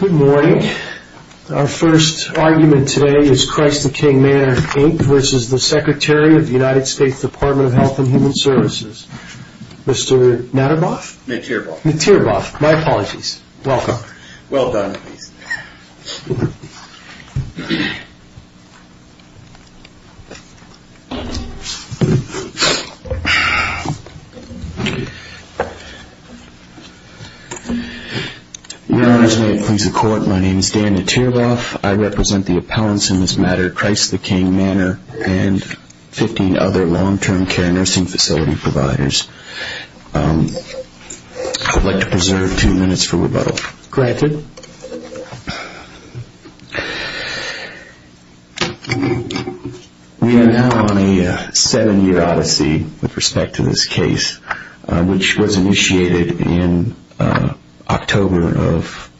Good morning. Our first argument today is Christ the King Manor Inc. v. The Secretary of the United States Department of Health and Human Services. Mr. Natterboff? Mattierboff. Mattierboff. My apologies. Welcome. Well done. My name is Dan Mattierboff. I represent the appellants in this matter, Christ the King Manor and 15 other long-term care nursing facility providers. I would like to preserve two minutes for rebuttal. Granted. We are now on a seven-year odyssey with respect to this case, which was initiated in October of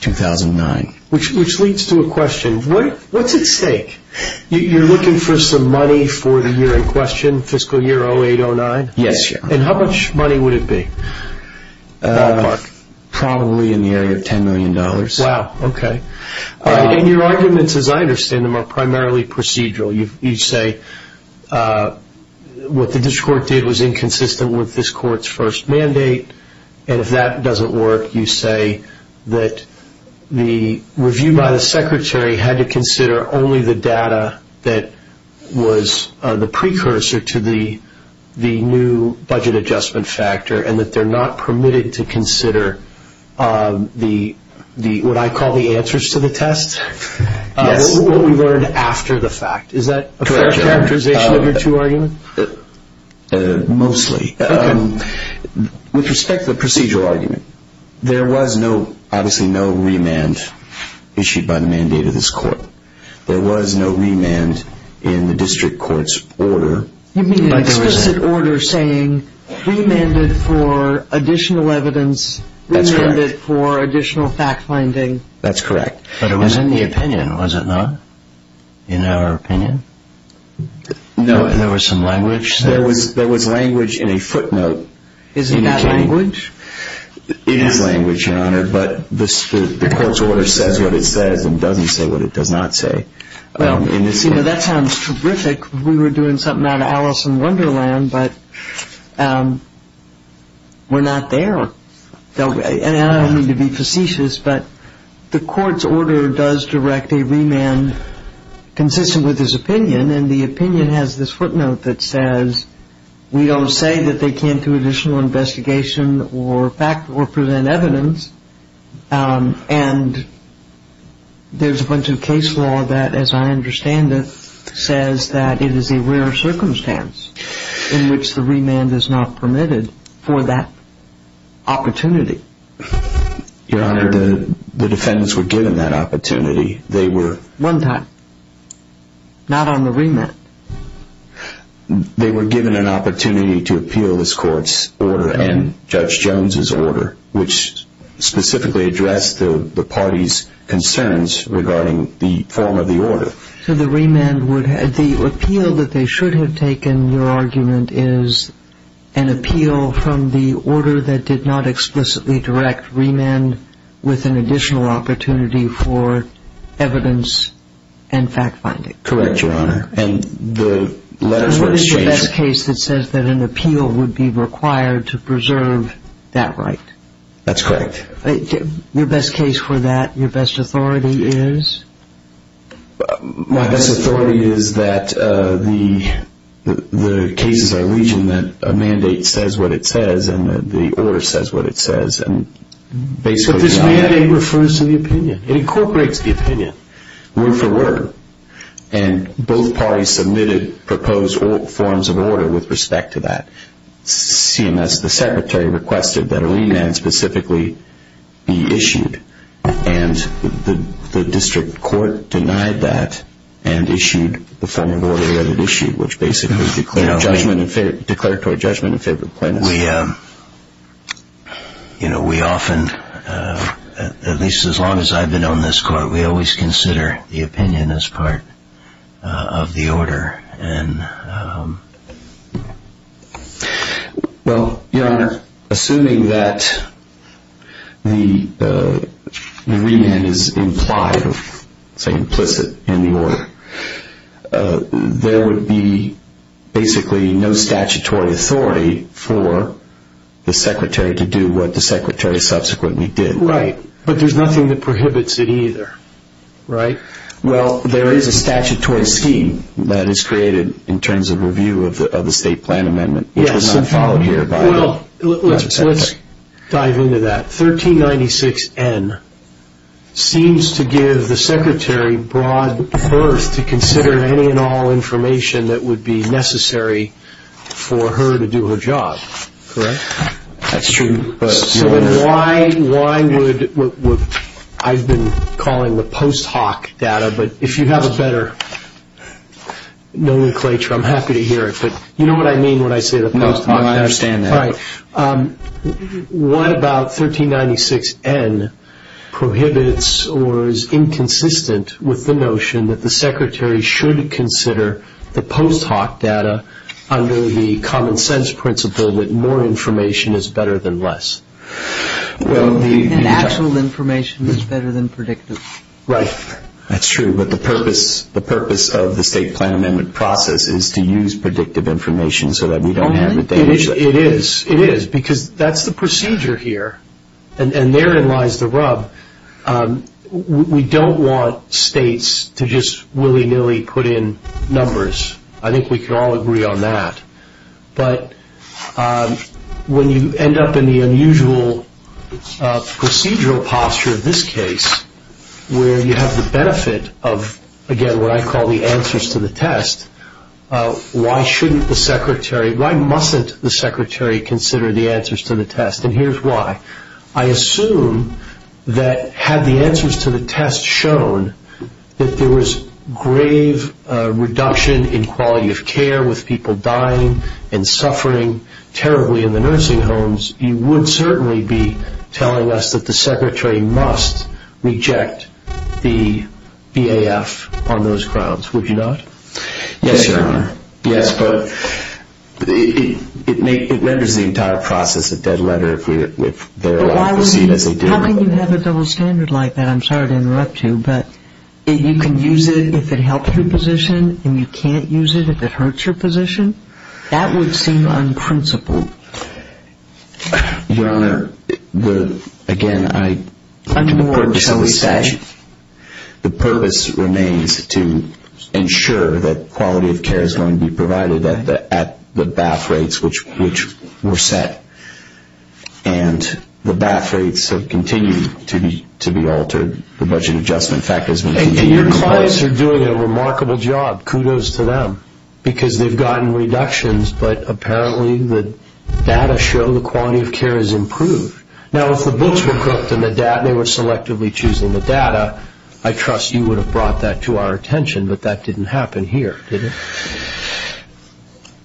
2009. Which leads to a question. What's at stake? You're looking for some money for the year in question, fiscal year 08-09? Yes, sir. And how much money would it be? Probably in the area of $10 million. Wow. Okay. And your arguments, as I understand them, are primarily procedural. You say what the district court did was inconsistent with this court's first mandate. And if that doesn't work, you say that the review by the secretary had to consider only the data that was the precursor to the new budget adjustment factor and that they're not permitted to consider what I call the answers to the test? Yes. What we learned after the fact. Is that a fair characterization of your two arguments? Mostly. Okay. With respect to the procedural argument, there was obviously no remand issued by the mandate of this court. There was no remand in the district court's order. You mean an explicit order saying remanded for additional evidence, remanded for additional fact-finding? That's correct. But it was in the opinion, was it not? In our opinion? No. There was some language there? There was language in a footnote. Isn't that language? It is language, Your Honor, but the court's order says what it says and doesn't say what it does not say. That sounds terrific. We were doing something out of Alice in Wonderland, but we're not there. And I don't mean to be facetious, but the court's order does direct a remand consistent with this opinion and the opinion has this footnote that says we don't say that they can't do additional investigation or present evidence and there's a bunch of case law that, as I understand it, says that it is a rare circumstance in which the remand is not permitted for that opportunity. Your Honor, the defendants were given that opportunity. One time. Not on the remand. They were given an opportunity to appeal this court's order and Judge Jones' order, which specifically addressed the party's concerns regarding the form of the order. So the remand would have, the appeal that they should have taken, your argument, is an appeal from the order that did not explicitly direct remand with an additional opportunity for evidence and fact-finding. Correct, Your Honor. And the letters were exchanged. So what is the best case that says that an appeal would be required to preserve that right? That's correct. Your best case for that, your best authority is? My best authority is that the cases are legion that a mandate says what it says and the order says what it says and basically the opposite. The mandate refers to the opinion. It incorporates the opinion, word for word. And both parties submitted proposed forms of order with respect to that. CMS, the secretary, requested that a remand specifically be issued, and the district court denied that and issued the form of order that it issued, which basically declared to our judgment in favor of the plaintiffs. We, you know, we often, at least as long as I've been on this court, we always consider the opinion as part of the order. Well, Your Honor, assuming that the remand is implied, say implicit in the order, there would be basically no statutory authority for the secretary to do what the secretary subsequently did. Right, but there's nothing that prohibits it either, right? Well, there is a statutory scheme that is created in terms of review of the state plan amendment, which was not followed here by the district secretary. Well, let's dive into that. 1396N seems to give the secretary broad berth to consider any and all information that would be necessary for her to do her job, correct? That's true. So then why would, I've been calling the post hoc data, but if you have a better nomenclature, I'm happy to hear it, but you know what I mean when I say the post hoc? I understand that. All right. What about 1396N prohibits or is inconsistent with the notion that the secretary should consider the post hoc data under the common sense principle that more information is better than less? And actual information is better than predictive. Right. That's true, but the purpose of the state plan amendment process is to use predictive information so that we don't have a data set. It is, it is, because that's the procedure here. And therein lies the rub. We don't want states to just willy-nilly put in numbers. I think we can all agree on that. But when you end up in the unusual procedural posture of this case, where you have the benefit of, again, what I call the answers to the test, why shouldn't the secretary, why mustn't the secretary consider the answers to the test? And here's why. I assume that had the answers to the test shown that there was grave reduction in quality of care with people dying and suffering terribly in the nursing homes, you would certainly be telling us that the secretary must reject the BAF on those grounds, would you not? Yes, Your Honor. Yes, but it renders the entire process a dead letter if they're allowed to see it as they do. How can you have a double standard like that? I'm sorry to interrupt you, but you can use it if it helps your position, that would seem unprincipled. Your Honor, again, the purpose remains to ensure that quality of care is going to be provided at the BAF rates which were set. And the BAF rates have continued to be altered. The budget adjustment factor has been... Your clients are doing a remarkable job. Kudos to them because they've gotten reductions, but apparently the data show the quality of care has improved. Now, if the books were cooked and they were selectively choosing the data, I trust you would have brought that to our attention, but that didn't happen here, did it?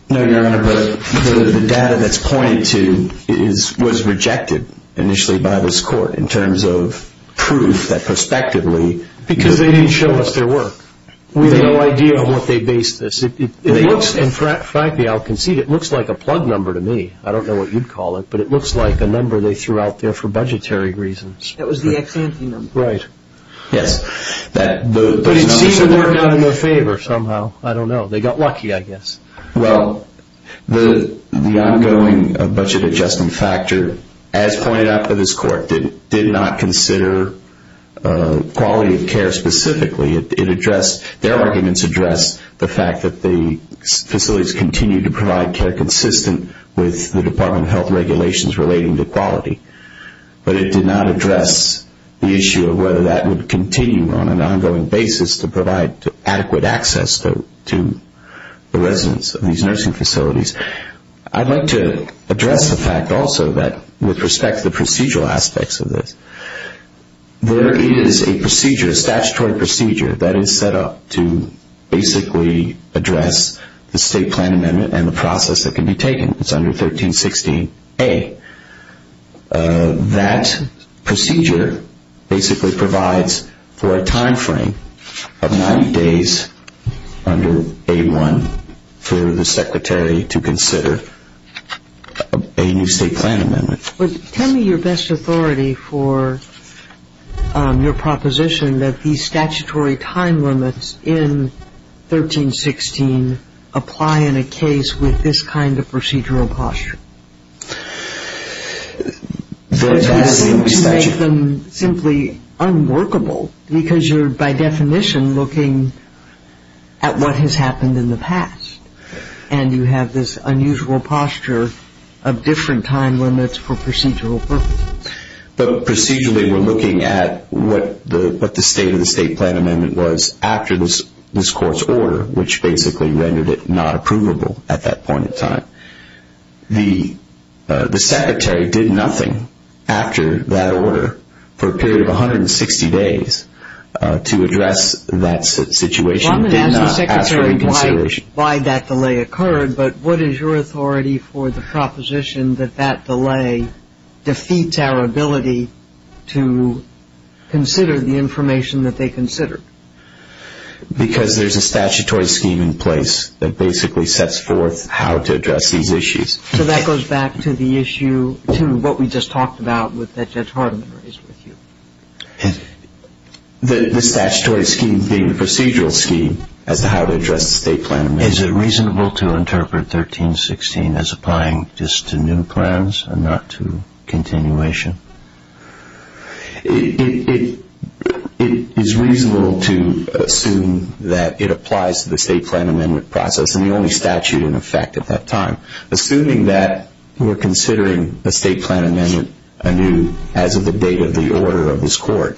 No, Your Honor, but the data that's pointed to was rejected initially by this court in terms of proof that prospectively... Because they didn't show us their work. We have no idea of what they based this. It looks, and frankly, I'll concede, it looks like a plug number to me. I don't know what you'd call it, but it looks like a number they threw out there for budgetary reasons. That was the ex-ante number. Right. Yes. But it seemed to work out in their favor somehow. I don't know. They got lucky, I guess. Well, the ongoing budget adjustment factor, as pointed out by this court, did not consider quality of care specifically. Their arguments address the fact that the facilities continue to provide care consistent with the Department of Health regulations relating to quality, but it did not address the issue of whether that would continue on an ongoing basis to provide adequate access to the residents of these nursing facilities. I'd like to address the fact also that with respect to the procedural aspects of this, there is a procedure, a statutory procedure that is set up to basically address the state plan amendment and the process that can be taken. It's under 1316A. That procedure basically provides for a time frame of 90 days under A1 for the secretary to consider a new state plan amendment. Tell me your best authority for your proposition that these statutory time limits in 1316 apply in a case with this kind of procedural posture. I think you make them simply unworkable because you're by definition looking at what has happened in the past and you have this unusual posture of different time limits for procedural purposes. But procedurally we're looking at what the state of the state plan amendment was after this court's order, which basically rendered it not approvable at that point in time. The secretary did nothing after that order for a period of 160 days to address that situation. I'm going to ask the secretary why that delay occurred, but what is your authority for the proposition that that delay defeats our ability to consider the information that they considered? Because there's a statutory scheme in place that basically sets forth how to address these issues. So that goes back to the issue, to what we just talked about that Judge Hardiman raised with you. The statutory scheme being the procedural scheme as to how to address the state plan amendment. Is it reasonable to interpret 1316 as applying just to new plans and not to continuation? It is reasonable to assume that it applies to the state plan amendment process and the only statute in effect at that time. Assuming that we're considering a state plan amendment anew as of the date of the order of this court,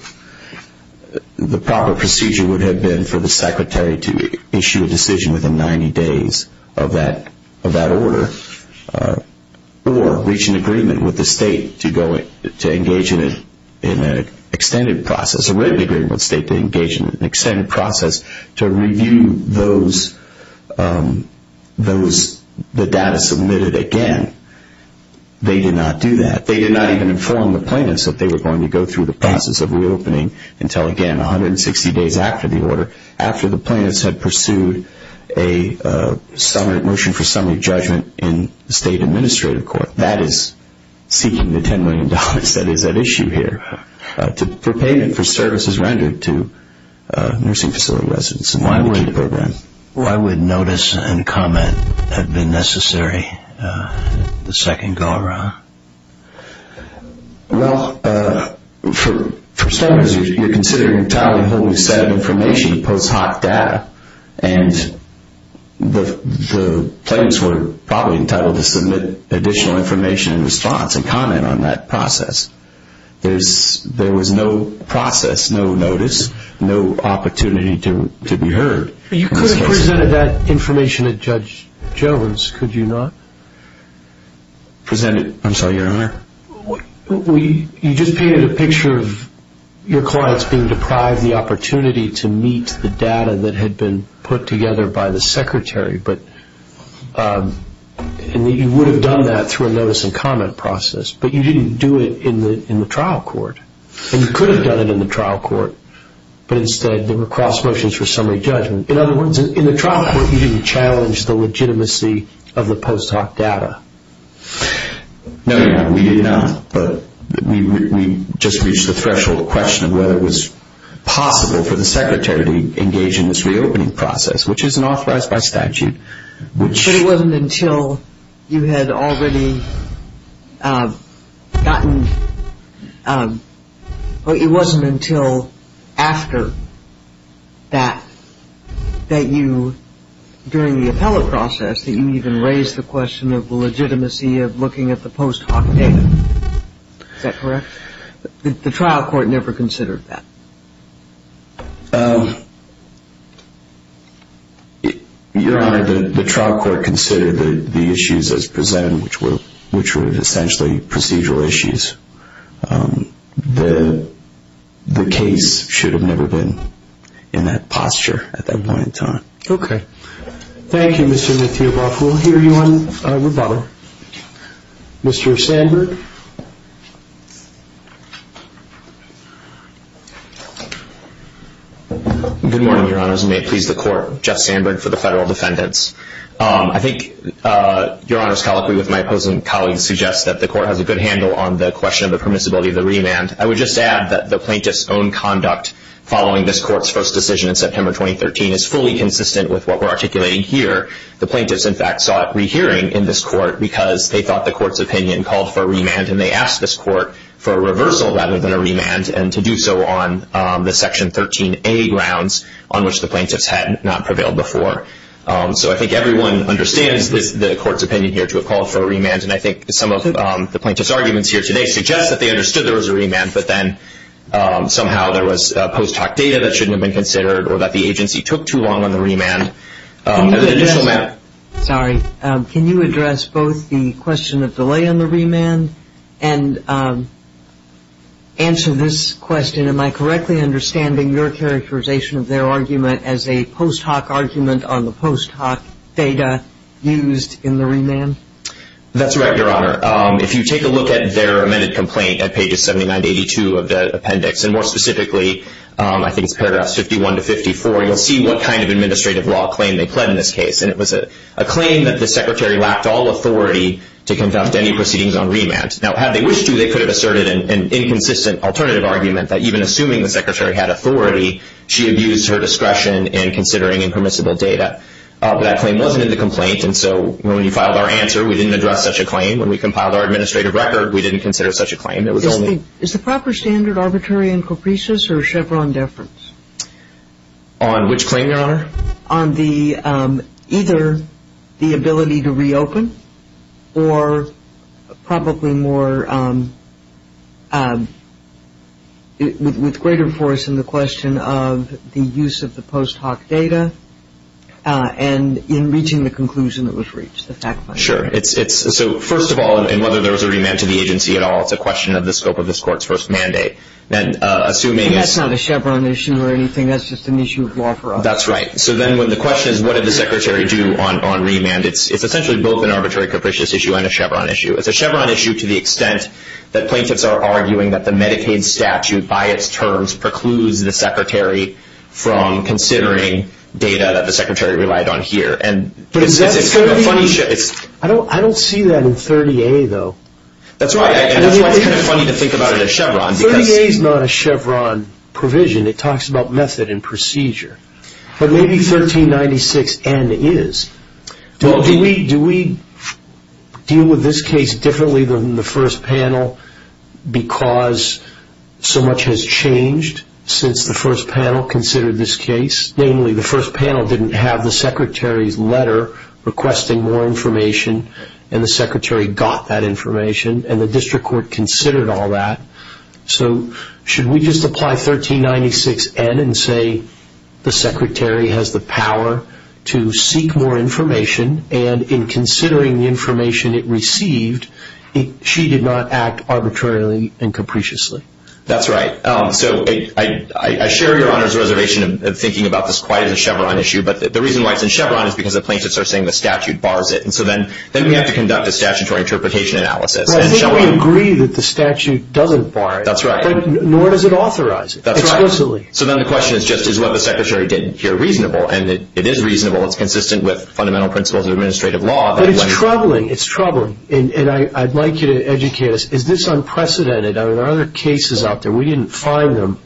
the proper procedure would have been for the secretary to issue a decision within 90 days of that order or reach an agreement with the state to engage in an extended process to review the data submitted again. They did not do that. They did not even inform the plaintiffs that they were going to go through the process of reopening until, again, 160 days after the order, after the plaintiffs had pursued a motion for summary judgment in the state administrative court. That is seeking the $10 million that is at issue here for payment for services rendered to nursing facility residents. Why would notice and comment have been necessary the second go around? Well, for starters, you're considering an entirely wholly set of information, post hoc data, and the plaintiffs were probably entitled to submit additional information in response and comment on that process. There was no process, no notice, no opportunity to be heard. You could have presented that information to Judge Jones, could you not? I'm sorry, Your Honor? You just painted a picture of your clients being deprived the opportunity to meet the data that had been put together by the secretary, and you would have done that through a notice and comment process, but you didn't do it in the trial court. You could have done it in the trial court, but instead there were cross motions for summary judgment. In other words, in the trial court you didn't challenge the legitimacy of the post hoc data. No, Your Honor, we did not. But we just reached the threshold question of whether it was possible for the secretary to engage in this reopening process, which isn't authorized by statute. But it wasn't until you had already gotten – but it wasn't until after that that you, during the appellate process, that you even raised the question of the legitimacy of looking at the post hoc data. Is that correct? The trial court never considered that. Your Honor, the trial court considered the issues as presented, which were essentially procedural issues. The case should have never been in that posture at that point in time. Okay. Thank you, Mr. Metheoboff. We'll hear you on rebuttal. Mr. Sandberg. Good morning, Your Honors, and may it please the Court. Jeff Sandberg for the Federal Defendants. I think Your Honors, colloquially with my opposing colleagues, suggests that the Court has a good handle on the question of the permissibility of the remand. I would just add that the plaintiff's own conduct following this Court's first decision in September 2013 is fully consistent with what we're articulating here. The plaintiffs, in fact, sought rehearing in this Court because they thought the Court's opinion called for a remand, and they asked this Court for a reversal rather than a remand, and to do so on the Section 13a grounds on which the plaintiffs had not prevailed before. So I think everyone understands the Court's opinion here to have called for a remand, and I think some of the plaintiff's arguments here today suggest that they understood there was a remand, but then somehow there was post hoc data that shouldn't have been considered or that the agency took too long on the remand. Can you address both the question of delay on the remand and answer this question, am I correctly understanding your characterization of their argument as a post hoc argument on the post hoc data used in the remand? That's right, Your Honor. If you take a look at their amended complaint at pages 79 to 82 of the appendix, and more specifically, I think it's paragraphs 51 to 54, you'll see what kind of administrative law claim they pled in this case, and it was a claim that the Secretary lacked all authority to conduct any proceedings on remand. Now, had they wished to, they could have asserted an inconsistent alternative argument that even assuming the Secretary had authority, she abused her discretion in considering impermissible data. That claim wasn't in the complaint, and so when we filed our answer, we didn't address such a claim. When we compiled our administrative record, we didn't consider such a claim. Is the proper standard arbitrary in Capricious or Chevron deference? On which claim, Your Honor? On either the ability to reopen or probably more with greater force in the question of the use of the post hoc data and in reaching the conclusion that was reached, the fact finding. First of all, and whether there was a remand to the agency at all, it's a question of the scope of this Court's first mandate. That's not a Chevron issue or anything, that's just an issue of law for us. That's right. So then the question is, what did the Secretary do on remand? It's essentially both an arbitrary Capricious issue and a Chevron issue. It's a Chevron issue to the extent that plaintiffs are arguing that the Medicaid statute by its terms precludes the Secretary from considering data that the Secretary relied on here. I don't see that in 30A, though. That's right. That's why it's kind of funny to think about it as Chevron. 30A is not a Chevron provision. It talks about method and procedure. But maybe 1396N is. Do we deal with this case differently than the first panel because so much has changed since the first panel considered this case? Namely, the first panel didn't have the Secretary's letter requesting more information, and the Secretary got that information, and the District Court considered all that. So should we just apply 1396N and say the Secretary has the power to seek more information, and in considering the information it received, she did not act arbitrarily and capriciously? That's right. So I share Your Honor's reservation of thinking about this quite as a Chevron issue, but the reason why it's in Chevron is because the plaintiffs are saying the statute bars it, and so then we have to conduct a statutory interpretation analysis. But I think we agree that the statute doesn't bar it. That's right. Nor does it authorize it explicitly. So then the question is just is what the Secretary did here reasonable? And it is reasonable. It's consistent with fundamental principles of administrative law. But it's troubling. It's troubling. And I'd like you to educate us. Is this unprecedented? There are other cases out there. We didn't find them.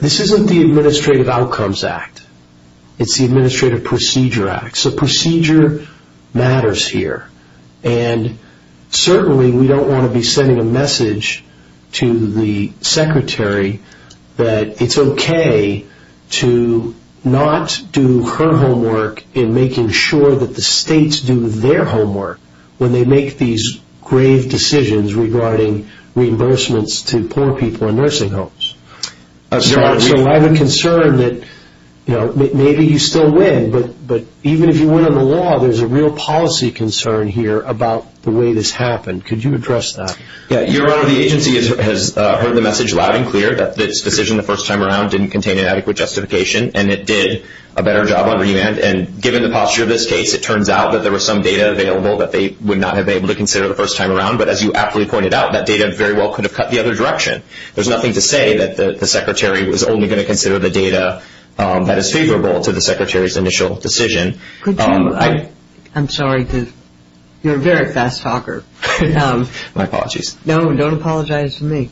This isn't the Administrative Outcomes Act. It's the Administrative Procedure Act. So procedure matters here. And certainly we don't want to be sending a message to the Secretary that it's okay to not do her homework in making sure that the states do their homework when they make these grave decisions regarding reimbursements to poor people in nursing homes. So I have a concern that maybe you still win, but even if you win on the law, there's a real policy concern here about the way this happened. Could you address that? Your Honor, the agency has heard the message loud and clear that this decision the first time around didn't contain an adequate justification, and it did a better job on remand, and given the posture of this case, it turns out that there was some data available that they would not have been able to consider the first time around. But as you aptly pointed out, that data very well could have cut the other direction. There's nothing to say that the Secretary was only going to consider the data that is favorable to the Secretary's initial decision. I'm sorry. You're a very fast talker. My apologies. No, don't apologize to me.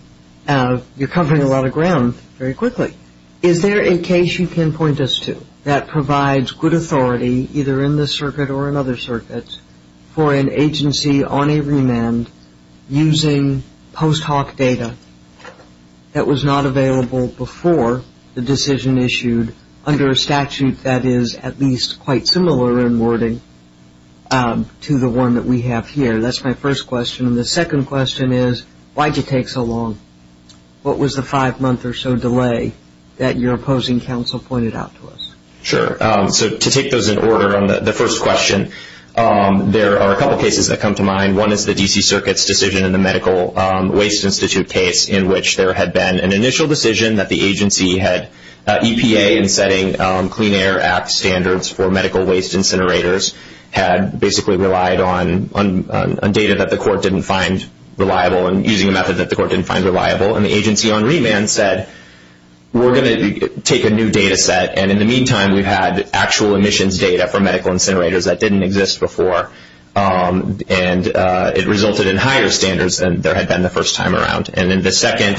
You're covering a lot of ground very quickly. Is there a case you can point us to that provides good authority, either in this circuit or in other circuits, for an agency on a remand using post hoc data that was not available before the decision issued under a statute that is at least quite similar in wording to the one that we have here? That's my first question. The second question is, why did it take so long? What was the five-month or so delay that your opposing counsel pointed out to us? Sure. So to take those in order on the first question, there are a couple cases that come to mind. One is the D.C. Circuit's decision in the Medical Waste Institute case in which there had been an initial decision that the agency had EPA in setting Clean Air Act standards for medical waste incinerators, had basically relied on data that the court didn't find reliable and using a method that the court didn't find reliable. And the agency on remand said, we're going to take a new data set. And in the meantime, we've had actual emissions data for medical incinerators that didn't exist before. And it resulted in higher standards than there had been the first time around. And in the second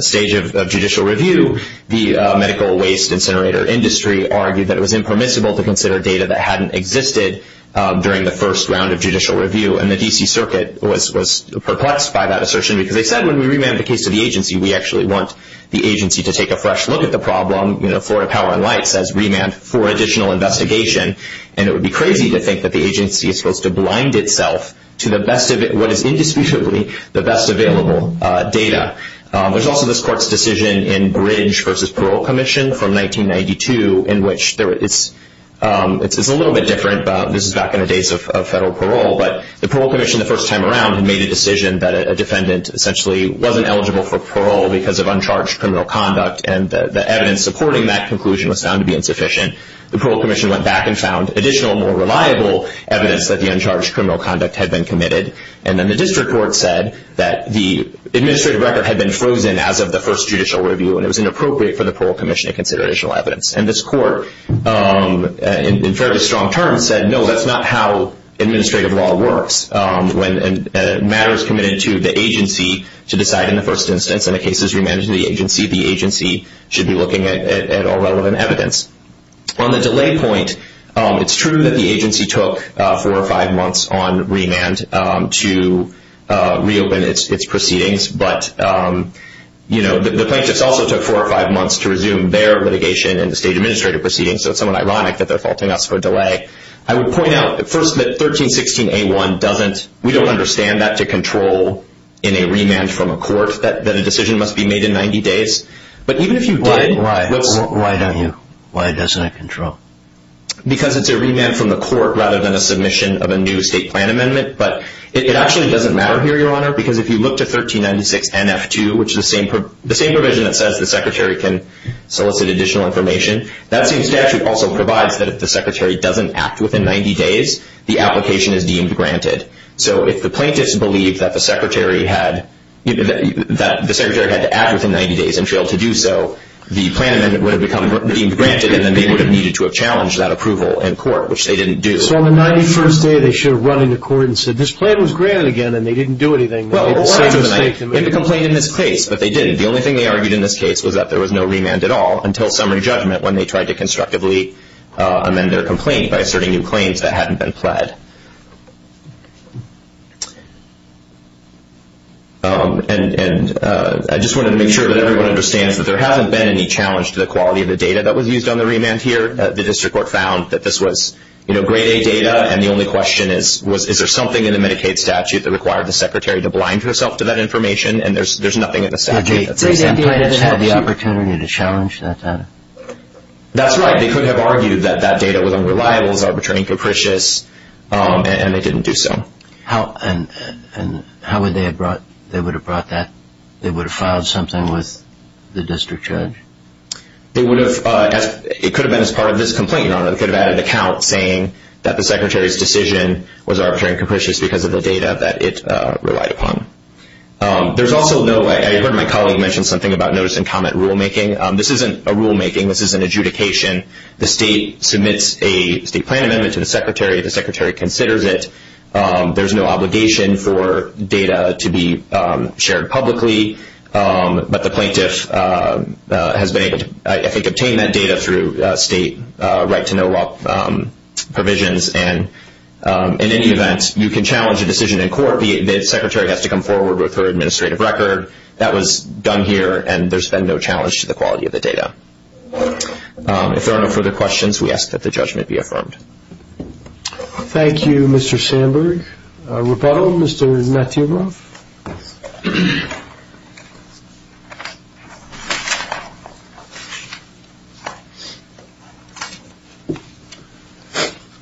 stage of judicial review, the medical waste incinerator industry argued that it was impermissible to consider data that hadn't existed during the first round of judicial review. And the D.C. Circuit was perplexed by that assertion because they said, when we remand the case to the agency, we actually want the agency to take a fresh look at the problem. Florida Power and Light says, remand for additional investigation. And it would be crazy to think that the agency is supposed to blind itself to what is indisputably the best available data. There's also this court's decision in Bridge v. Parole Commission from 1992 in which it's a little bit different. This is back in the days of federal parole. But the parole commission, the first time around, had made a decision that a defendant essentially wasn't eligible for parole because of uncharged criminal conduct. And the evidence supporting that conclusion was found to be insufficient. The parole commission went back and found additional, more reliable evidence that the uncharged criminal conduct had been committed. And then the district court said that the administrative record had been frozen as of the first judicial review, and it was inappropriate for the parole commission to consider additional evidence. And this court, in fairly strong terms, said, no, that's not how administrative law works. When a matter is committed to the agency to decide in the first instance and the case is remanded to the agency, the agency should be looking at all relevant evidence. On the delay point, it's true that the agency took four or five months on remand to reopen its proceedings. But the plaintiffs also took four or five months to resume their litigation and the state administrative proceedings. So it's somewhat ironic that they're faulting us for a delay. I would point out, first, that 1316A1 doesn't – we don't understand that to control in a remand from a court, that a decision must be made in 90 days. But even if you did – Why don't you? Why doesn't it control? Because it's a remand from the court rather than a submission of a new state plan amendment. But it actually doesn't matter here, Your Honor, because if you look to 1396NF2, which is the same provision that says the secretary can solicit additional information, that same statute also provides that if the secretary doesn't act within 90 days, the application is deemed granted. So if the plaintiffs believe that the secretary had to act within 90 days and failed to do so, the plan amendment would have become deemed granted and then they would have needed to have challenged that approval in court, which they didn't do. So on the 91st day, they should have run into court and said, this plan was granted again and they didn't do anything. Well, why wouldn't they? They could complain in this case, but they didn't. The only thing they argued in this case was that there was no remand at all until summary judgment when they tried to constructively amend their complaint by asserting new claims that hadn't been pled. And I just wanted to make sure that everyone understands that there hasn't been any challenge to the quality of the data that was used on the remand here. The district court found that this was, you know, grade A data, and the only question is, is there something in the Medicaid statute that required the secretary to blind herself to that information? And there's nothing in the statute that says that. Did the plaintiffs have the opportunity to challenge that data? That's right. They could have argued that that data was unreliable, was arbitrary and capricious, and they didn't do so. And how would they have brought that? They would have filed something with the district judge? It could have been as part of this complaint. They could have added an account saying that the secretary's decision was arbitrary and capricious because of the data that it relied upon. I heard my colleague mention something about notice and comment rulemaking. This isn't a rulemaking. This is an adjudication. The state submits a state plan amendment to the secretary. The secretary considers it. There's no obligation for data to be shared publicly, but the plaintiff has been able to, I think, obtain that data through state right-to-know-what provisions. And in any event, you can challenge a decision in court. The secretary has to come forward with her administrative record. That was done here, and there's been no challenge to the quality of the data. If there are no further questions, we ask that the judgment be affirmed. Thank you, Mr. Sandberg. Rebuttal, Mr. Natyubov.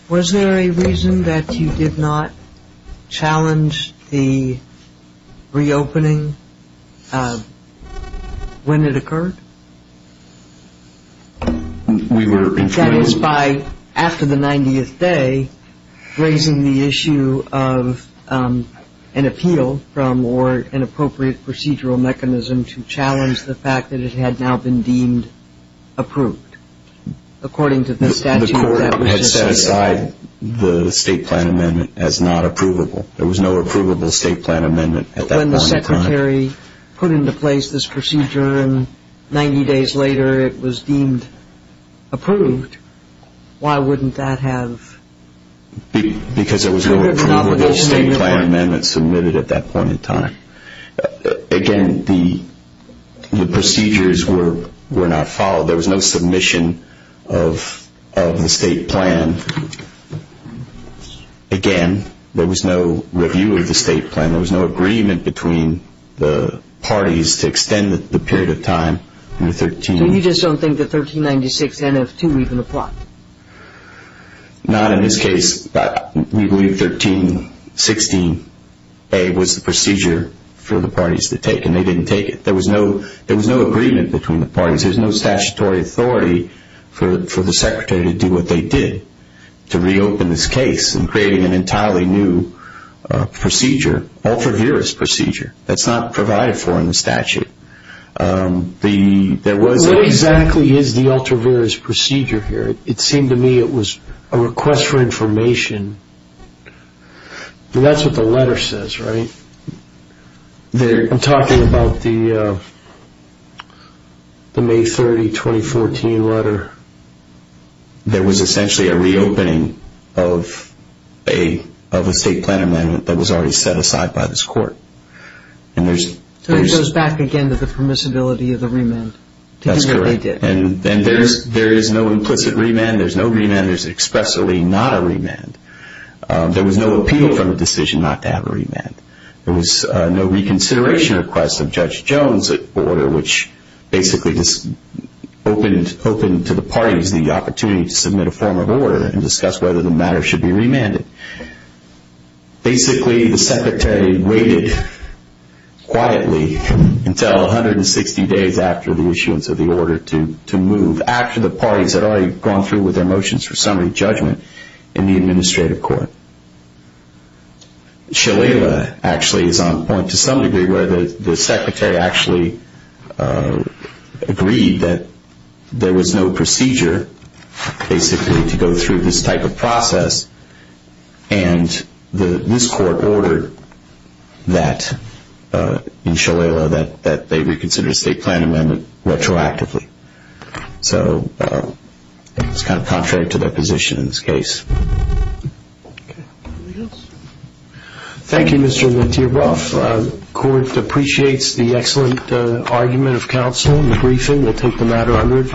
Was there a reason that you did not challenge the reopening when it occurred? We were informed. It was by, after the 90th day, raising the issue of an appeal from or an appropriate procedural mechanism to challenge the fact that it had now been deemed approved. According to the statute that was just issued. The court had set aside the state plan amendment as not approvable. There was no approvable state plan amendment at that point in time. If the judiciary put into place this procedure and 90 days later it was deemed approved, why wouldn't that have? Because there was no approvable state plan amendment submitted at that point in time. Again, the procedures were not followed. There was no submission of the state plan. Again, there was no review of the state plan. There was no agreement between the parties to extend the period of time. So you just don't think the 1396 NF2 even applied? Not in this case, but we believe 1316A was the procedure for the parties to take, and they didn't take it. There was no agreement between the parties. There was no statutory authority for the secretary to do what they did, to reopen this case and create an entirely new procedure, an ultra-virus procedure that's not provided for in the statute. What exactly is the ultra-virus procedure here? It seemed to me it was a request for information. That's what the letter says, right? I'm talking about the May 30, 2014 letter. There was essentially a reopening of a state plan amendment that was already set aside by this court. So it goes back again to the permissibility of the remand to do what they did. That's correct. And there is no implicit remand. There's no remand. There's expressly not a remand. There was no appeal from the decision not to have a remand. There was no reconsideration request of Judge Jones' order, which basically just opened to the parties the opportunity to submit a form of order and discuss whether the matter should be remanded. Basically, the secretary waited quietly until 160 days after the issuance of the order to move, after the parties had already gone through with their motions for summary judgment in the administrative court. Shalala, actually, is on point to some degree, where the secretary actually agreed that there was no procedure, basically, to go through this type of process, and this court ordered that in Shalala that they reconsider the state plan amendment retroactively. So it's kind of contrary to their position in this case. Okay. Anybody else? Thank you, Mr. Wentierboff. The court appreciates the excellent argument of counsel in the briefing. We'll take the matter under advisory.